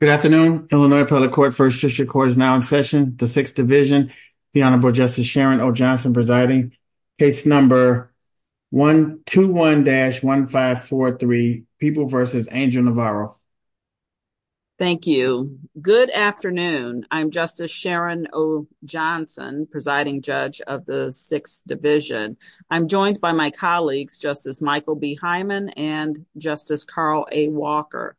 Good afternoon, Illinois Appellate Court, First District Court is now in session, the Sixth Division, the Honorable Justice Sharon O. Johnson presiding, case number 121-1543, People v. Angel Navarro. Thank you. Good afternoon. I'm Justice Sharon O. Johnson, presiding judge of the Sixth Division. I'm joined by my colleagues, Justice Michael B. Hyman and Justice Carl A. Walker.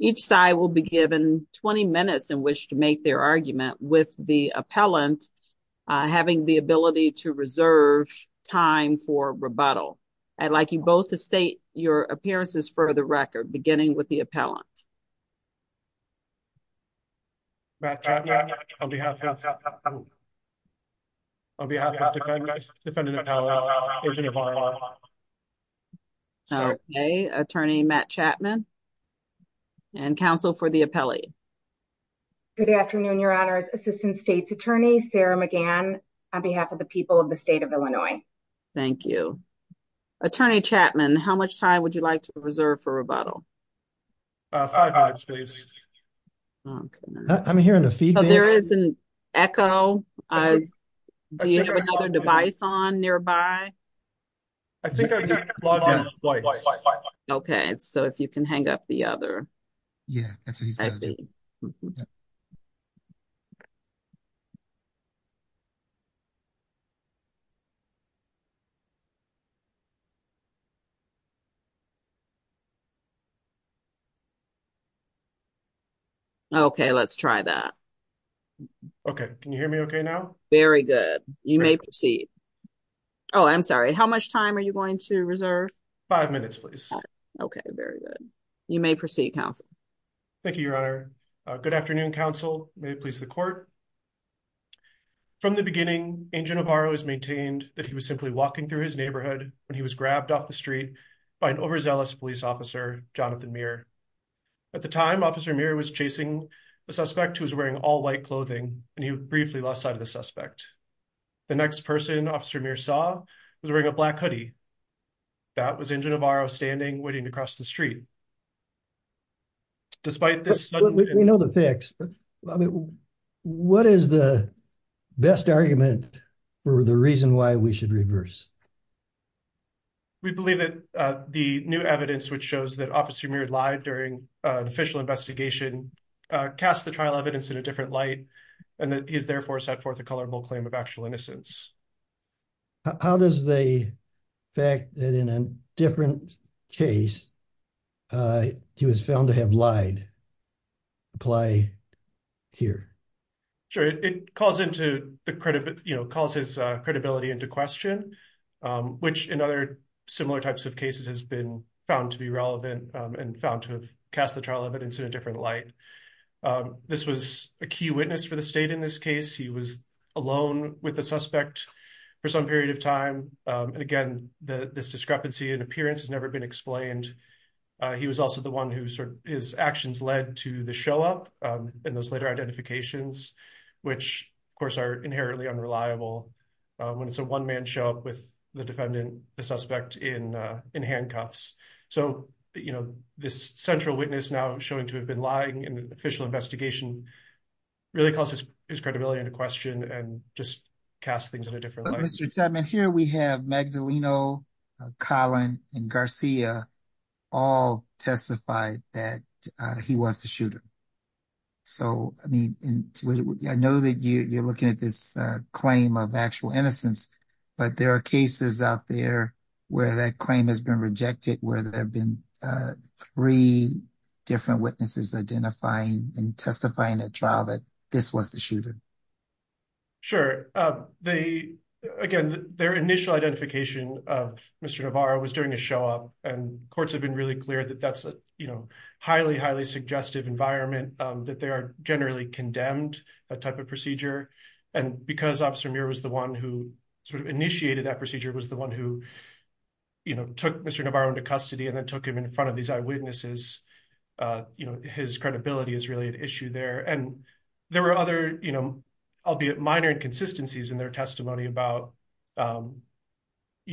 Each side will be given 20 minutes in which to make their argument, with the appellant having the ability to reserve time for rebuttal. I'd like you both to state your appearances for the record, beginning with the appellant. Matt Chapman, on behalf of the defendant appellant, Agent Navarro. Okay, Attorney Matt Chapman, and counsel for the appellate. Good afternoon, Your Honors, Assistant State's Attorney Sarah McGann, on behalf of the people of the state of Illinois. Thank you. Attorney Chapman, how much time would you like to reserve for rebuttal? Five minutes, please. I'm hearing a feedback. There is an echo. Do you have another device on nearby? I think I've got it plugged in twice. Okay, so if you can hang up the other. Yeah, that's what he's going to do. Okay, let's try that. Okay, can you hear me okay now? Very good. You may proceed. Oh, I'm sorry. How much time are you going to reserve? Five minutes, please. Okay, very good. You may proceed, counsel. Thank you, Your Honor. Good afternoon, counsel. May it please the court. From the beginning, Agent Navarro has maintained that he was simply walking through his neighborhood when he was grabbed off the street by an overzealous police officer, Jonathan Meir. At the time, Officer Meir was chasing the suspect who was wearing all white The next person Officer Meir saw was wearing a black hoodie. That was Agent Navarro standing waiting to cross the street. Despite this, we know the facts. What is the best argument for the reason why we should reverse? We believe that the new evidence which shows that Officer Meir lied during an official investigation casts the trial evidence in a different light and that he has therefore set forth a colorable claim of actual innocence. How does the fact that in a different case he was found to have lied apply here? Sure. It calls his credibility into question, which in other similar types of cases has been found to be relevant and found to have cast the trial evidence in a different light. This was a key witness for the state in this case. He was alone with the suspect for some period of time. Again, this discrepancy in appearance has never been explained. He was also the one whose actions led to the show-up and those later identifications, which of course are inherently unreliable when it's a one-man show-up with the defendant, the suspect, in handcuffs. So this central witness now showing to have been lying in an official investigation really calls his credibility into question and just casts things in a different light. But Mr. Chapman, here we have Magdaleno, Colin, and Garcia all testified that he was the shooter. I know that you're looking at this claim of actual innocence, but there are cases out there where that claim has been rejected, where there have been three different witnesses identifying and testifying at trial that this was the shooter. Sure. Again, their initial identification of Mr. Navarro was during a show-up, and courts have been really clear that that's a highly, highly suggestive environment, that they are generally condemned, that type of procedure. And because Officer Muir was the one who initiated that took Mr. Navarro into custody and then took him in front of these eyewitnesses, his credibility is really an issue there. And there were other, albeit minor, inconsistencies in their testimony about how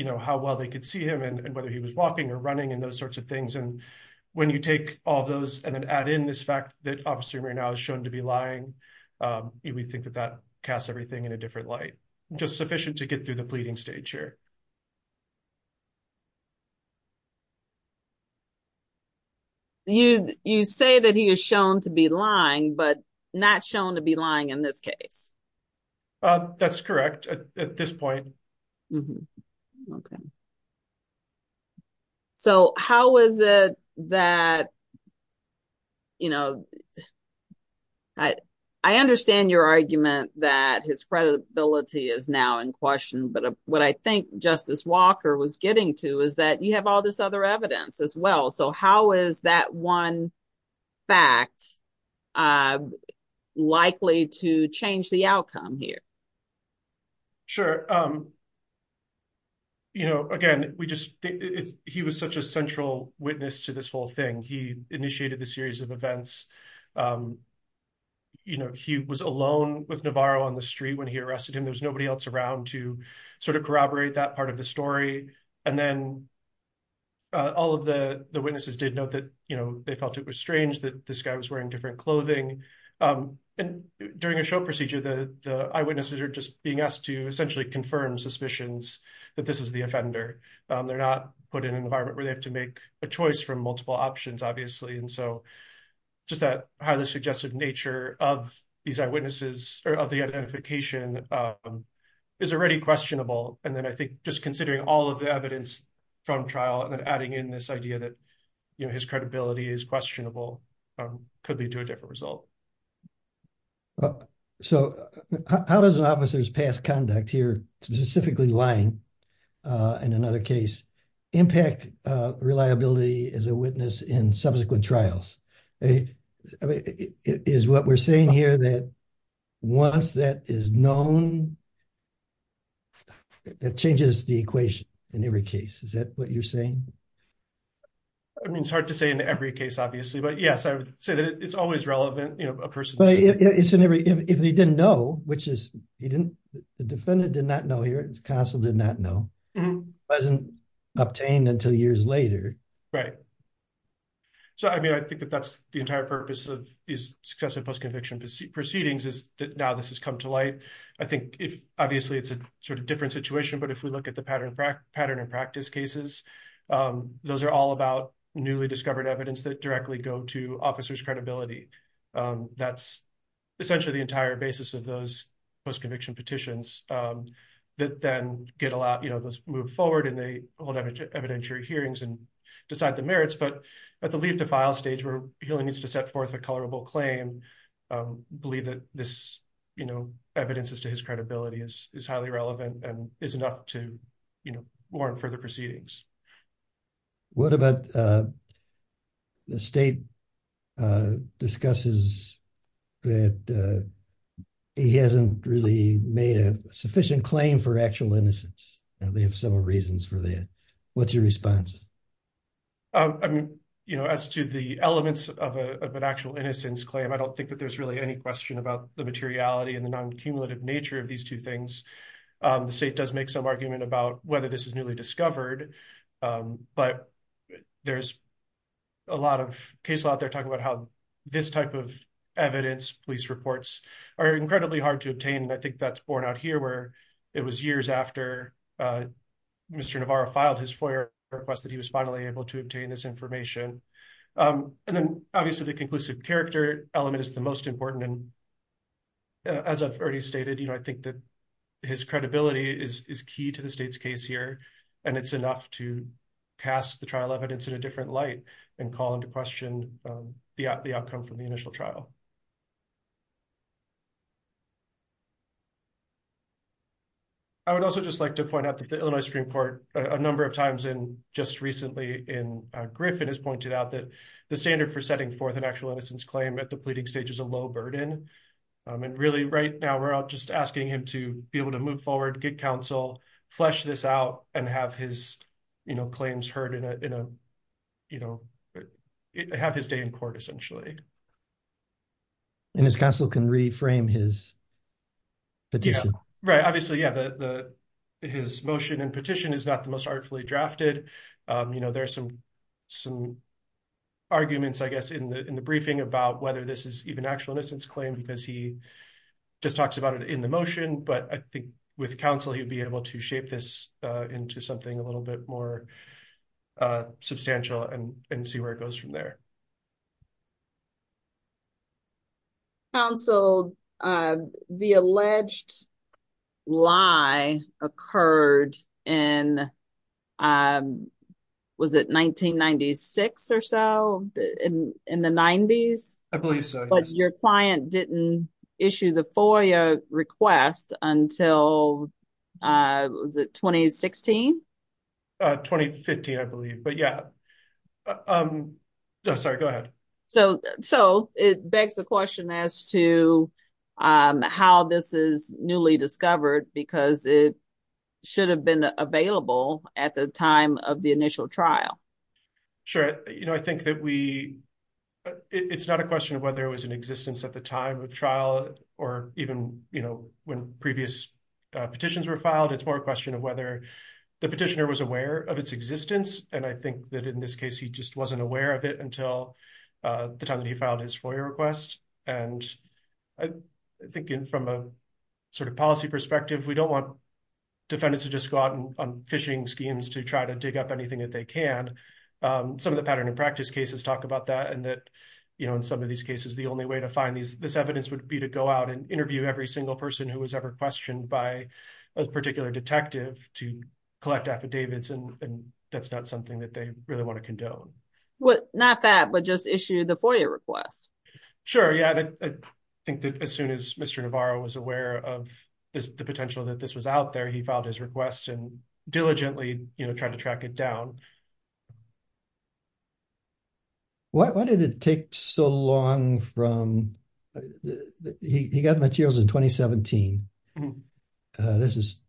well they could see him and whether he was walking or running and those sorts of things. And when you take all those and then add in this fact that Officer Muir now is shown to be lying, we think that that casts everything in a different light, just sufficient to get through the pleading stage here. You say that he is shown to be lying, but not shown to be lying in this case. That's correct at this point. Okay. So how is it that, you know, I understand your argument that his credibility is now in question, but what I think Justice Walker was getting to is that you have all this other evidence as well. So how is that one fact likely to change the outcome here? Sure. You know, again, he was such a central witness to this whole thing. He initiated the series of events. You know, he was alone with Navarro on the street when he arrested him. There was nobody else around to sort of corroborate that part of the story. And then all of the witnesses did note that, you know, they felt it was strange that this guy was wearing different clothing. And during a show procedure, the eyewitnesses are just being asked to essentially confirm suspicions that this is the offender. They're not put in an environment where they have to make a choice from multiple options, obviously. And so just that highly suggestive of these eyewitnesses or of the identification is already questionable. And then I think just considering all of the evidence from trial and then adding in this idea that, you know, his credibility is questionable could lead to a different result. So how does an officer's past conduct here, specifically lying in another case, impact reliability as a witness in subsequent trials? Is what we're saying here that once that is known, it changes the equation in every case. Is that what you're saying? I mean, it's hard to say in every case, obviously. But yes, I would say that it's always relevant, you know, a person. But if they didn't know, which is he didn't, the defendant did not know, his counsel did not know, wasn't obtained until years later. Right. So I mean, I think that that's the entire purpose of these successive post-conviction proceedings is that now this has come to light. I think if obviously it's a sort of different situation, but if we look at the pattern and practice cases, those are all about newly discovered evidence that directly go to officer's credibility. That's essentially the entire basis of those post-conviction petitions that then get a lot, you know, those move forward and they hold evidentiary hearings and decide the merits. But at the leave to file stage where he only needs to set forth a colorable claim, believe that this, you know, evidence as to his credibility is highly relevant and is enough to warrant further proceedings. What about the state discusses that he hasn't really made a sufficient claim for actual innocence? They have several reasons for that. What's your response? I mean, you know, as to the elements of an actual innocence claim, I don't think that there's really any question about the materiality and the non-cumulative nature of these two things. The state does make some argument about whether this is newly discovered, but there's a lot of cases out there talking about how this type of evidence, police reports, are incredibly hard to obtain. I think that's borne out here where it was years after Mr. Navarro filed his FOIA request that he was finally able to obtain this information. And then obviously the conclusive character element is the most important. And as I've already stated, you know, I think that his credibility is key to the state's case here, and it's enough to pass the trial evidence in a different light and call into question the outcome from the initial trial. I would also just like to point out that the Illinois Supreme Court a number of times in just recently in Griffin has pointed out that the standard for setting forth an actual innocence claim at the pleading stage is a low burden. And really right now we're all just asking him to be able to move forward, get counsel, flesh this out, and have his claims heard, have his day in court essentially. And his counsel can reframe his petition. Right. Obviously, yeah, his motion and petition is not the most artfully drafted. You know, there are some arguments, I guess, in the briefing about whether this is even actual innocence claim, because he just talks about it in the motion. But I think with counsel, he'd be able to shape this into something a little bit more substantial and see where it goes from there. Counsel, the alleged lie occurred in, was it 1996 or so, in the 90s? I believe so. But your client didn't issue the FOIA request until, was it 2016? 2015, I believe. But yeah. Sorry, go ahead. So it begs the question as to how this is newly discovered, because it should have been available at the time of the initial trial. Sure. You know, I think that we, it's not a question of whether it was in existence at the time of trial or even, you know, when previous petitions were filed. It's more a question of the petitioner was aware of its existence. And I think that in this case, he just wasn't aware of it until the time that he filed his FOIA request. And I think from a sort of policy perspective, we don't want defendants to just go out on phishing schemes to try to dig up anything that they can. Some of the pattern and practice cases talk about that and that, you know, in some of these cases, the only way to find this evidence would be to go out and interview every single person who was questioned by a particular detective to collect affidavits. And that's not something that they really want to condone. Well, not that, but just issue the FOIA request. Sure. Yeah. I think that as soon as Mr. Navarro was aware of the potential that this was out there, he filed his request and diligently, you know, tried to track it down. Why did it take so long from, he got the materials in 2017. This is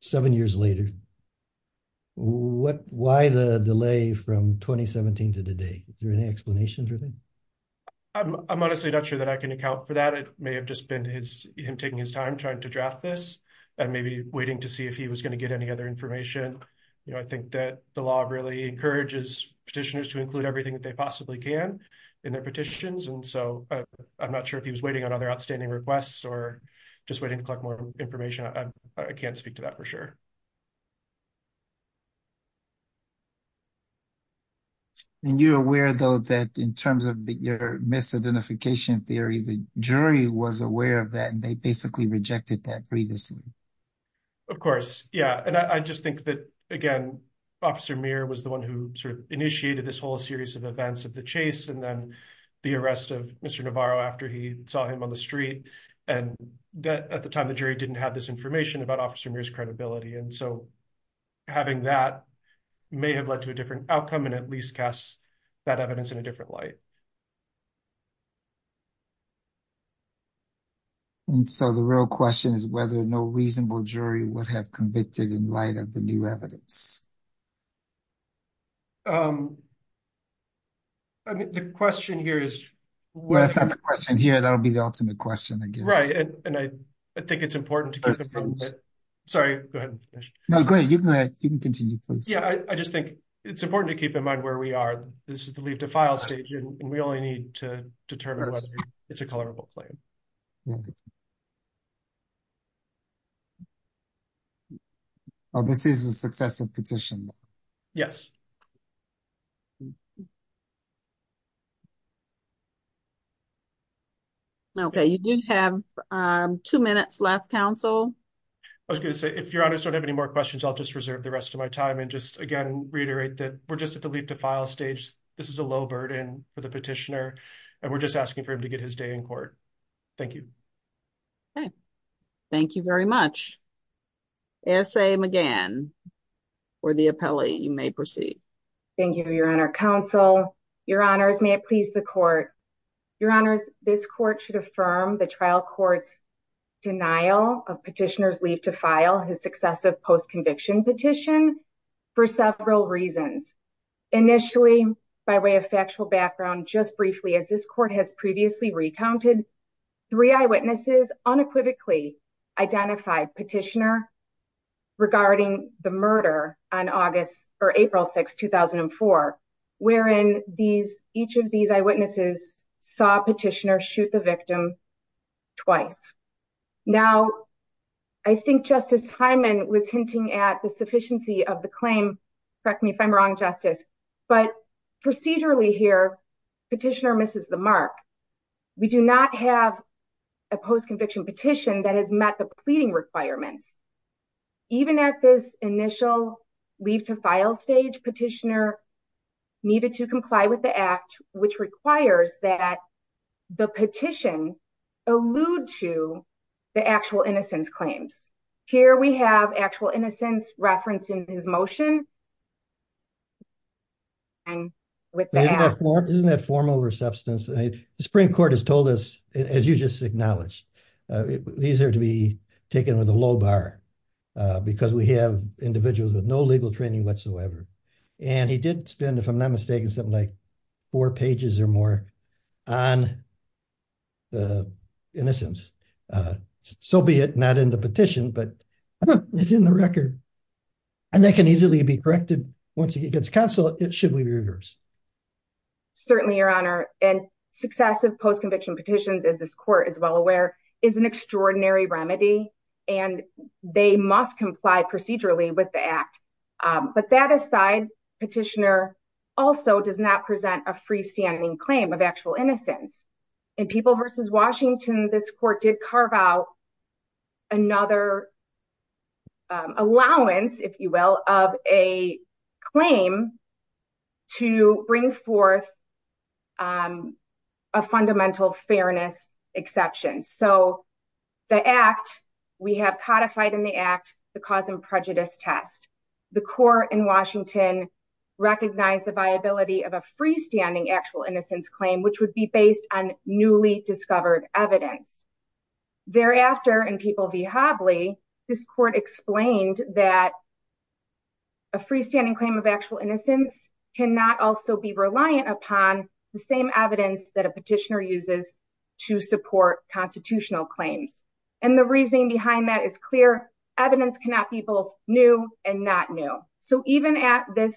seven years later. What, why the delay from 2017 to today? Is there any explanation for that? I'm honestly not sure that I can account for that. It may have just been his, him taking his time trying to draft this and maybe waiting to see if he was going to get any other information. You know, I think that the law really encourages petitioners to include everything that they possibly can in their petitions. And so I'm not sure if he was waiting on other outstanding requests or just waiting to collect more information. I can't speak to that for sure. And you're aware though, that in terms of the, your misidentification theory, the jury was aware of that and they basically rejected that previously. Of course. Yeah. And I just think that again, Officer Muir was the one who sort of initiated this whole series of events of the chase and then the arrest of Mr. Navarro after he saw him on the street. And that at the time the jury didn't have this information about Officer Muir's credibility. And so having that may have led to a different outcome and at least casts that evidence in a different light. And so the real question is whether no reasonable jury would have convicted in light of the new evidence. I mean, the question here is. Well, that's not the question here. That'll be the ultimate question, I guess. Right. And I think it's important to, sorry, go ahead. No, go ahead. You can continue, please. Yeah, I just think it's important to keep in mind where we are. We only need to determine whether it's a colorable claim. Oh, this is a successive petition. Yes. Okay. You do have two minutes left, Council. I was going to say, if your honors don't have any more questions, I'll just reserve the rest of my time and just again, reiterate that we're and we're just asking for him to get his day in court. Thank you. Okay. Thank you very much. S. A. McGann, or the appellee, you may proceed. Thank you, your honor. Council, your honors, may it please the court. Your honors, this court should affirm the trial court's denial of petitioner's leave to file his successive post-conviction petition for several reasons. Initially, by way of factual background, just briefly, as this court has previously recounted, three eyewitnesses unequivocally identified petitioner regarding the murder on August or April 6, 2004, wherein these, each of these eyewitnesses saw petitioner shoot the victim twice. Now, I think Justice Hyman was hinting at the sufficiency of the claim. Correct me if I'm wrong, Justice, but procedurally here, petitioner misses the mark. We do not have a post-conviction petition that has met the pleading requirements. Even at this initial leave to file stage, petitioner needed to comply with the act, which requires that the petition allude to the actual innocence claims. Here we have actual innocence referenced in his motion. Isn't that form over substance? The Supreme Court has told us, as you just acknowledged, these are to be taken with a low bar because we have individuals with legal training whatsoever. He did spend, if I'm not mistaken, something like four pages or more on the innocence, so be it not in the petition, but it's in the record. That can easily be corrected once it gets canceled, should we reverse. Certainly, Your Honor. Successive post-conviction petitions, as this court is well aware, is an extraordinary remedy, and they must comply procedurally with the act. But that aside, petitioner also does not present a freestanding claim of actual innocence. In People v. Washington, this court did carve out another allowance, if you will, of a claim to bring forth a fundamental fairness exception. The act, we have codified in the act the cause and prejudice test. The court in Washington recognized the viability of a freestanding actual innocence claim, which would be based on newly discovered evidence. Thereafter, in People v. Hobley, this court explained that a freestanding claim of actual innocence cannot also be reliant upon the same evidence that a petitioner uses to support constitutional claims. The reasoning behind that is clear. Evidence cannot be both new and not new. Even at this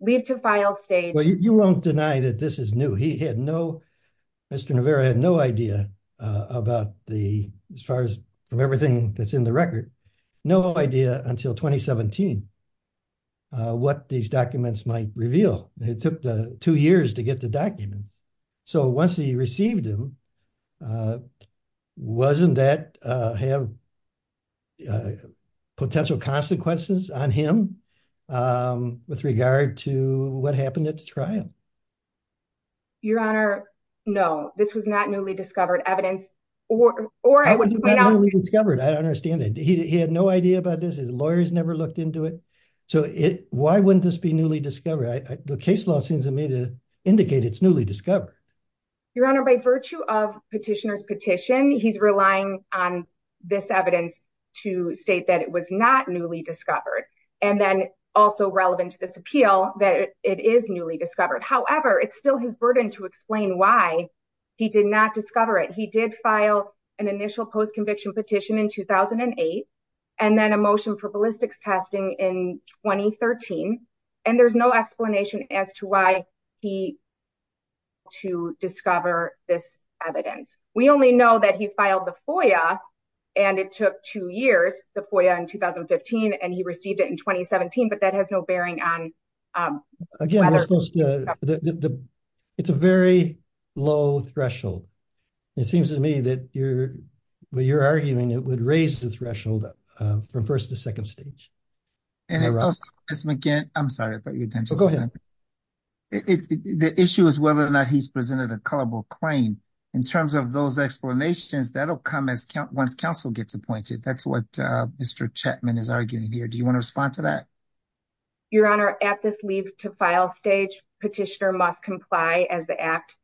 leave-to-file stage- Well, you won't deny that this is new. He had no, Mr. Navarro had no idea about the, as far as from everything that's in the record, no idea until 2017 what these documents might reveal. It took two years to get the document. So once he received them, wasn't that have potential consequences on him with regard to what happened at the trial? Your Honor, no, this was not newly discovered evidence or- How can it be not newly discovered? I don't understand that. He had no idea about this. His lawyers never looked into it. So why wouldn't this be newly discovered? The case law seems to me to indicate it's newly discovered. Your Honor, by virtue of petitioner's petition, he's relying on this evidence to state that it was not newly discovered. And then also relevant to this appeal that it is newly discovered. However, it's still his burden to explain why he did not discover it. He did file an initial post-conviction petition in 2008, and then a motion for ballistics testing in 2013. And there's no explanation as to why he to discover this evidence. We only know that he filed the FOIA and it took two years, the FOIA in 2015, and he received it in 2017, but that has no bearing on- It's a very low threshold. It seems to me that you're arguing it would raise the threshold from first to second stage. And also, Ms. McGinn, I'm sorry, I thought your attention- Oh, go ahead. The issue is whether or not he's presented a culpable claim. In terms of those explanations, that'll come once counsel gets appointed. That's what Mr. Chapman is arguing here. Do you want to respond to that? Your Honor, at this leave to file stage, petitioner must comply as the act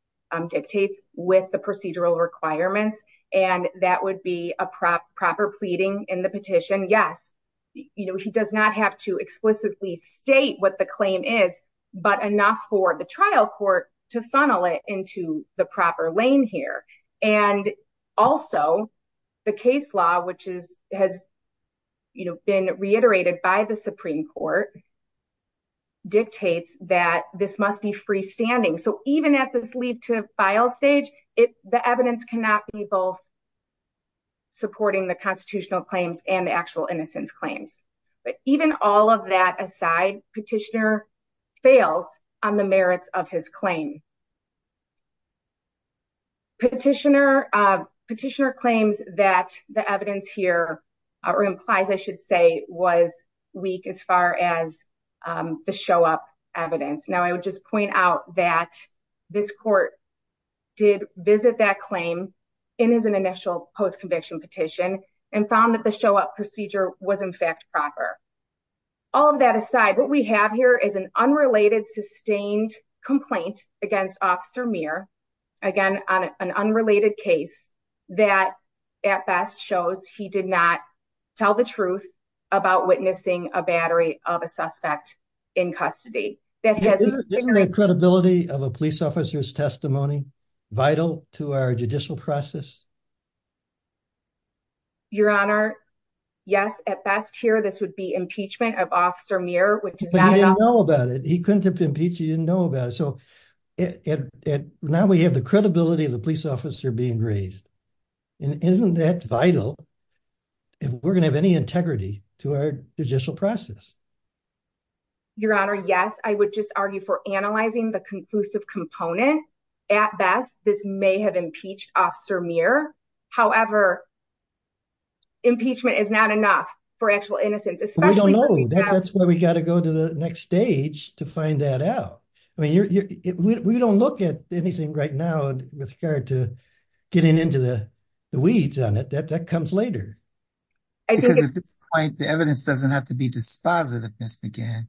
dictates with the procedural requirements. And that would be a proper pleading in the petition. Yes, he does not have to explicitly state what the claim is, but enough for the trial court to funnel it into the proper lane here. And also, the case law, which has been reiterated by the Supreme Court dictates that this must be freestanding. So even at this leave to file stage, the evidence cannot be both supporting the constitutional claims and the actual innocence claims. But even all of that aside, petitioner fails on the merits of his claim. Petitioner claims that the evidence here, or implies I should say, was weak as far as the show-up evidence. Now, I would just point out that this court did visit that claim in his initial post-conviction petition and found that the show-up procedure was in fact proper. All of that aside, what we have here is an unrelated sustained complaint against Officer Meir. Again, on an unrelated case that at best shows he did not tell the truth about witnessing a battery of a suspect in custody. Isn't the credibility of a police officer's testimony vital to our judicial process? Your Honor, yes, at best here, this would be impeachment of Officer Meir, which is not at all... But he didn't know about it. He couldn't have impeached, he didn't know about it. So now we have the credibility of the police officer being raised. Isn't that vital if we're going to have any integrity to our judicial process? Your Honor, yes. I would just argue for analyzing the conclusive component. At best, this may have impeached Officer Meir. However, impeachment is not enough for actual innocence, especially... We don't know. That's why we got to go to the next stage to find that out. I mean, we don't look at anything right now with regard to getting into the weeds on it. That comes later. Because at this point, the evidence doesn't have to be dispositive, Ms. McGann.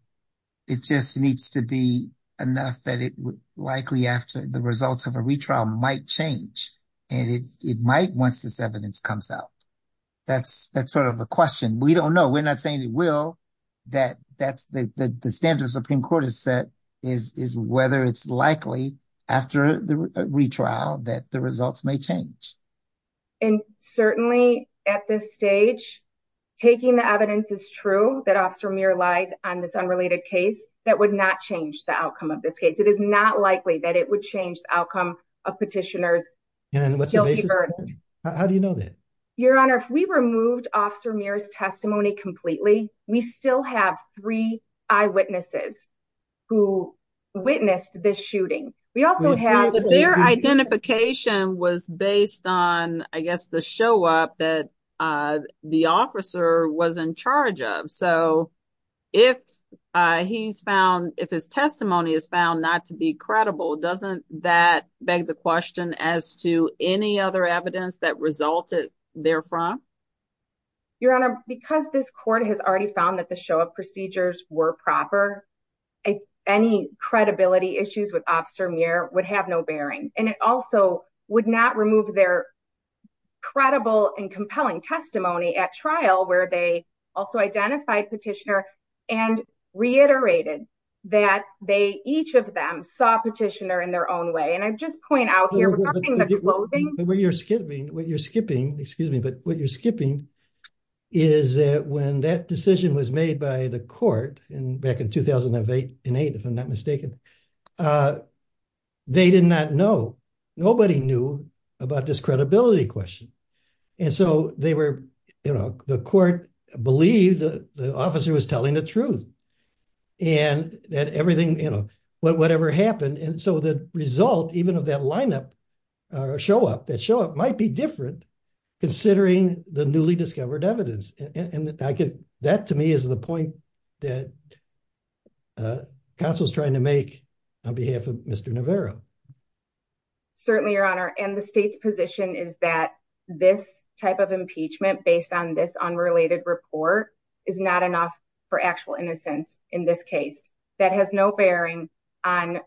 It just needs to be enough that likely after the results of a retrial might change. And it might once this evidence comes out. That's sort of the question. We don't know. We're not saying it will. The standard the Supreme Court has set is whether it's likely after the retrial that the results may change. And certainly at this stage, taking the evidence is true that Officer Meir lied on this unrelated case. That would not change the outcome of this case. It is not likely that it would change the outcome of petitioner's guilty verdict. How do you know that? Your Honor, if we removed Officer Meir's testimony completely, we still have three eyewitnesses who witnessed this shooting. We also have... But their identification was based on, I guess, the show up that the officer was in charge of. So if his testimony is found not to be credible, doesn't that beg the question as to any other evidence that resulted therefrom? Your Honor, because this court has already found that the show of procedures were proper, any credibility issues with Officer Meir would have no bearing. And it also would not remove their credible and compelling testimony at trial where they also identified petitioner and reiterated that each of them saw petitioner in their own way. I just point out here, regarding the clothing... What you're skipping, excuse me, but what you're skipping is that when that decision was made by the court back in 2008, if I'm not mistaken, they did not know. Nobody knew about this credibility question. And so the court believed the officer was telling the truth and that everything, whatever happened. And so the result, even of that lineup or show up, that show up might be different considering the newly discovered evidence. And that to me is the point that counsel was trying to make on behalf of Mr. Navarro. Certainly, Your Honor. And the state's report is not enough for actual innocence in this case. That has no bearing on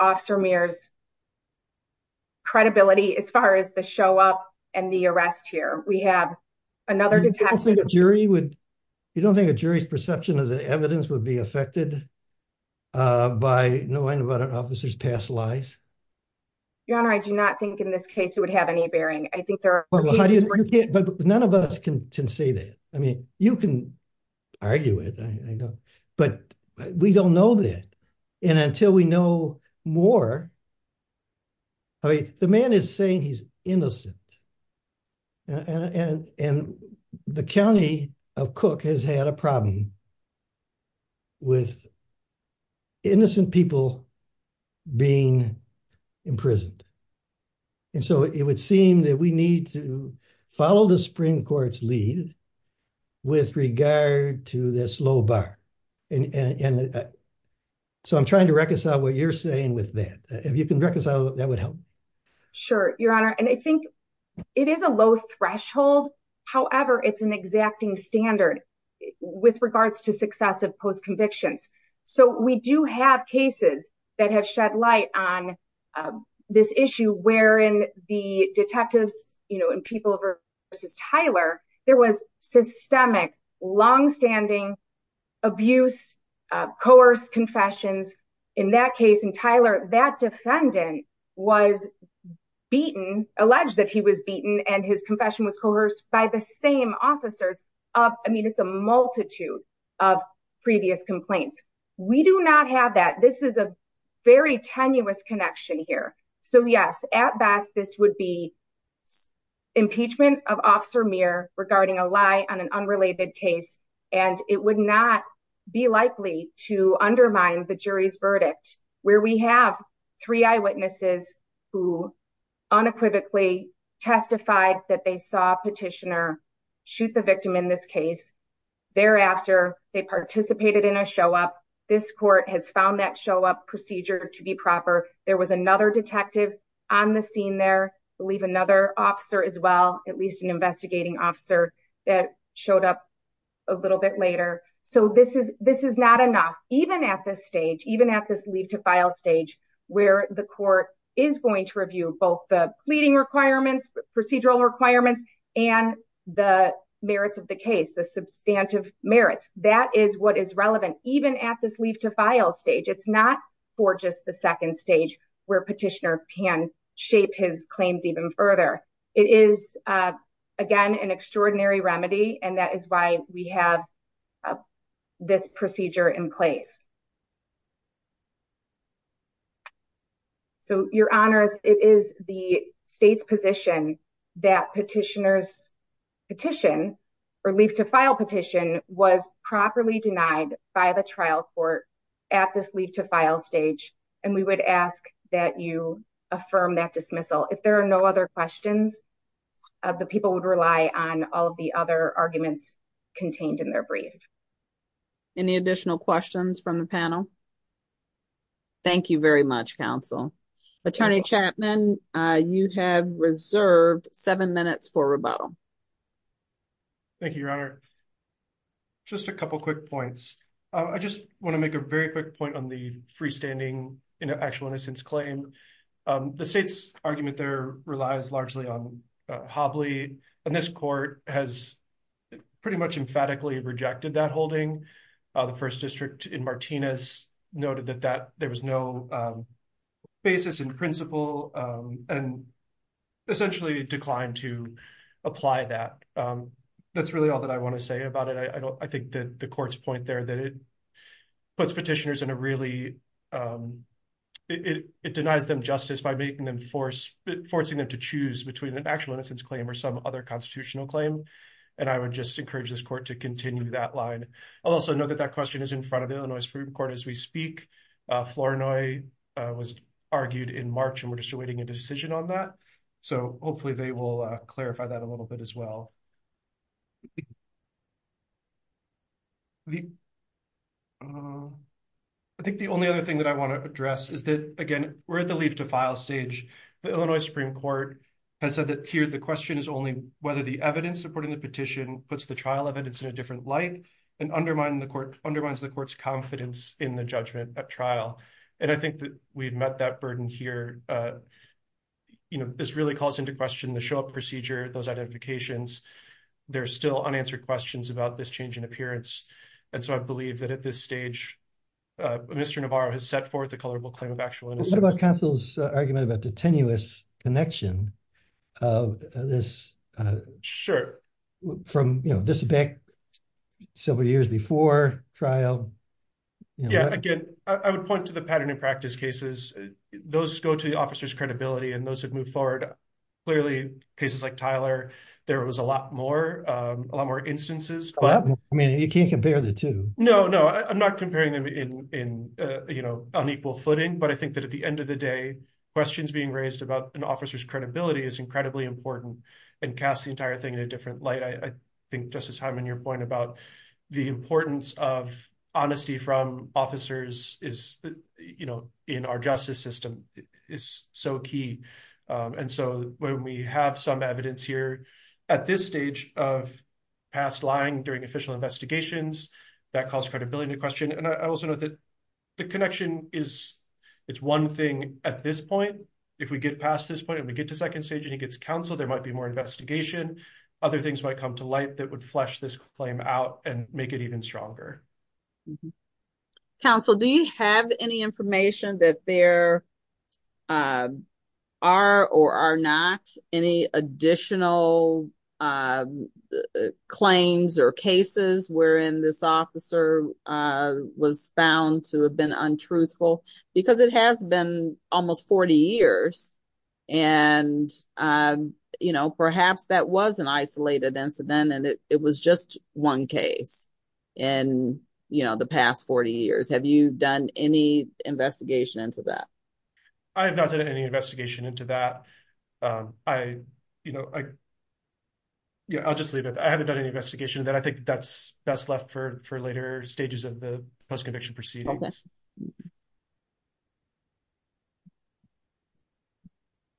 Officer Meir's credibility as far as the show up and the arrest here. We have another... You don't think a jury's perception of the evidence would be affected by knowing about an officer's past lies? Your Honor, I do not think in this case it would have any bearing. I think there are... But none of us can say that. I mean, you can argue it, I know, but we don't know that. And until we know more... The man is saying he's innocent. And the county of Cook has had a problem with innocent people being imprisoned. And so it would seem that we need to follow the Supreme Court's lead with regard to this low bar. So I'm trying to reconcile what you're saying with that. If you can reconcile, that would help. Sure, Your Honor. And I think it is a low threshold. However, it's an exacting standard with regards to successive post convictions. So we do have cases that have shed light on this issue wherein the detectives and people versus Tyler, there was systemic, longstanding abuse, coerced confessions in that case. And Tyler, that defendant was beaten, alleged that he was beaten and his confession was coerced by the same officers. I mean, it's a So yes, at best, this would be impeachment of Officer Muir regarding a lie on an unrelated case. And it would not be likely to undermine the jury's verdict, where we have three eyewitnesses who unequivocally testified that they saw a petitioner shoot the victim in this case. Thereafter, they participated in a show up. This court has found that show up procedure to be another detective on the scene there, believe another officer as well, at least an investigating officer that showed up a little bit later. So this is this is not enough, even at this stage, even at this leave to file stage, where the court is going to review both the pleading requirements, procedural requirements, and the merits of the case, the substantive merits, that is what is petitioner can shape his claims even further. It is, again, an extraordinary remedy. And that is why we have this procedure in place. So your honors, it is the state's position that petitioners petition, or leave to file petition was properly denied by the trial court at this leave to file stage. And we would ask that you affirm that dismissal if there are no other questions of the people would rely on all the other arguments contained in their brief. Any additional questions from the panel? Thank you very much, counsel. Attorney Chapman, you have reserved seven minutes for rebuttal. Thank you, Your Honor. Just a couple quick points. I just want to make a very quick point on the freestanding in actual innocence claim. The state's argument there relies largely on Hobley. And this court has pretty much emphatically rejected that holding. The first district in Martinez noted that that there was no basis in principle, and essentially declined to apply that. That's really all that I want to say about it. I think that the court's point there that it puts petitioners in a really, it denies them justice by forcing them to choose between an actual innocence claim or some other constitutional claim. And I would just encourage this court to continue that line. Also know that that question is in front of the Illinois Supreme Court as we speak. Flournoy was argued in March, and we're just awaiting a decision on that. So hopefully they will clarify that a little bit as well. I think the only other thing that I want to address is that, again, we're at the leave to file stage. The Illinois Supreme Court has said that here the question is only whether the evidence supporting the petition puts the trial evidence in a different light and undermines the court's confidence in the judgment at trial. And I think that we've met that burden here. This really calls into question the show-up procedure, those identifications. There are still unanswered questions about this change in appearance. And so I believe that at this stage, Mr. Navarro has set forth a colorable claim of actual innocence. What about Council's argument about the tenuous connection of this- Sure. From, you know, this back several years before trial? Yeah, again, I would point to the pattern in practice cases. Those go to the officer's court. Clearly, cases like Tyler, there was a lot more instances. I mean, you can't compare the two. No, no. I'm not comparing them in unequal footing, but I think that at the end of the day, questions being raised about an officer's credibility is incredibly important and casts the entire thing in a different light. I think, Justice Hyman, your point about the importance of honesty from officers in our justice system is so key. And so when we have some evidence here at this stage of past lying during official investigations, that calls credibility into question. And I also know that the connection is one thing at this point. If we get past this point and we get to second stage and he gets counsel, there might be more investigation. Other things might come to light that would flesh this claim out and make it even stronger. Mm-hmm. Counsel, do you have any information that there are or are not any additional claims or cases wherein this officer was found to have been untruthful? Because it has been almost 40 years and perhaps that was an isolated incident and it was just one case in the past 40 years. Have you done any investigation into that? I have not done any investigation into that. I'll just leave it. I haven't done any investigation of that. I think that's best left for later stages of the post-conviction proceedings.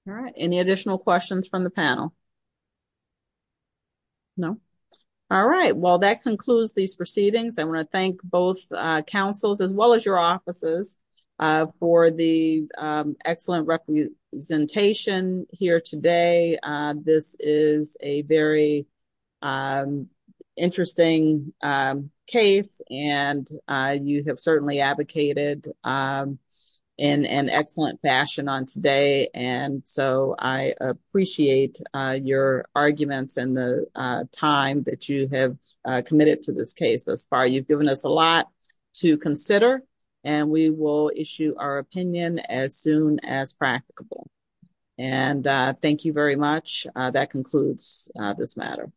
All right. Any additional questions from the panel? No. All right. Well, that concludes these proceedings. I want to thank both counsels as well as your offices for the excellent representation here today. This is a very interesting case and you have certainly advocated in an excellent fashion on today. And so I appreciate your arguments and the time that you have committed to this case thus far. You've given us a lot to consider and we will issue our opinion as soon as practicable. And thank you very much. That concludes this matter.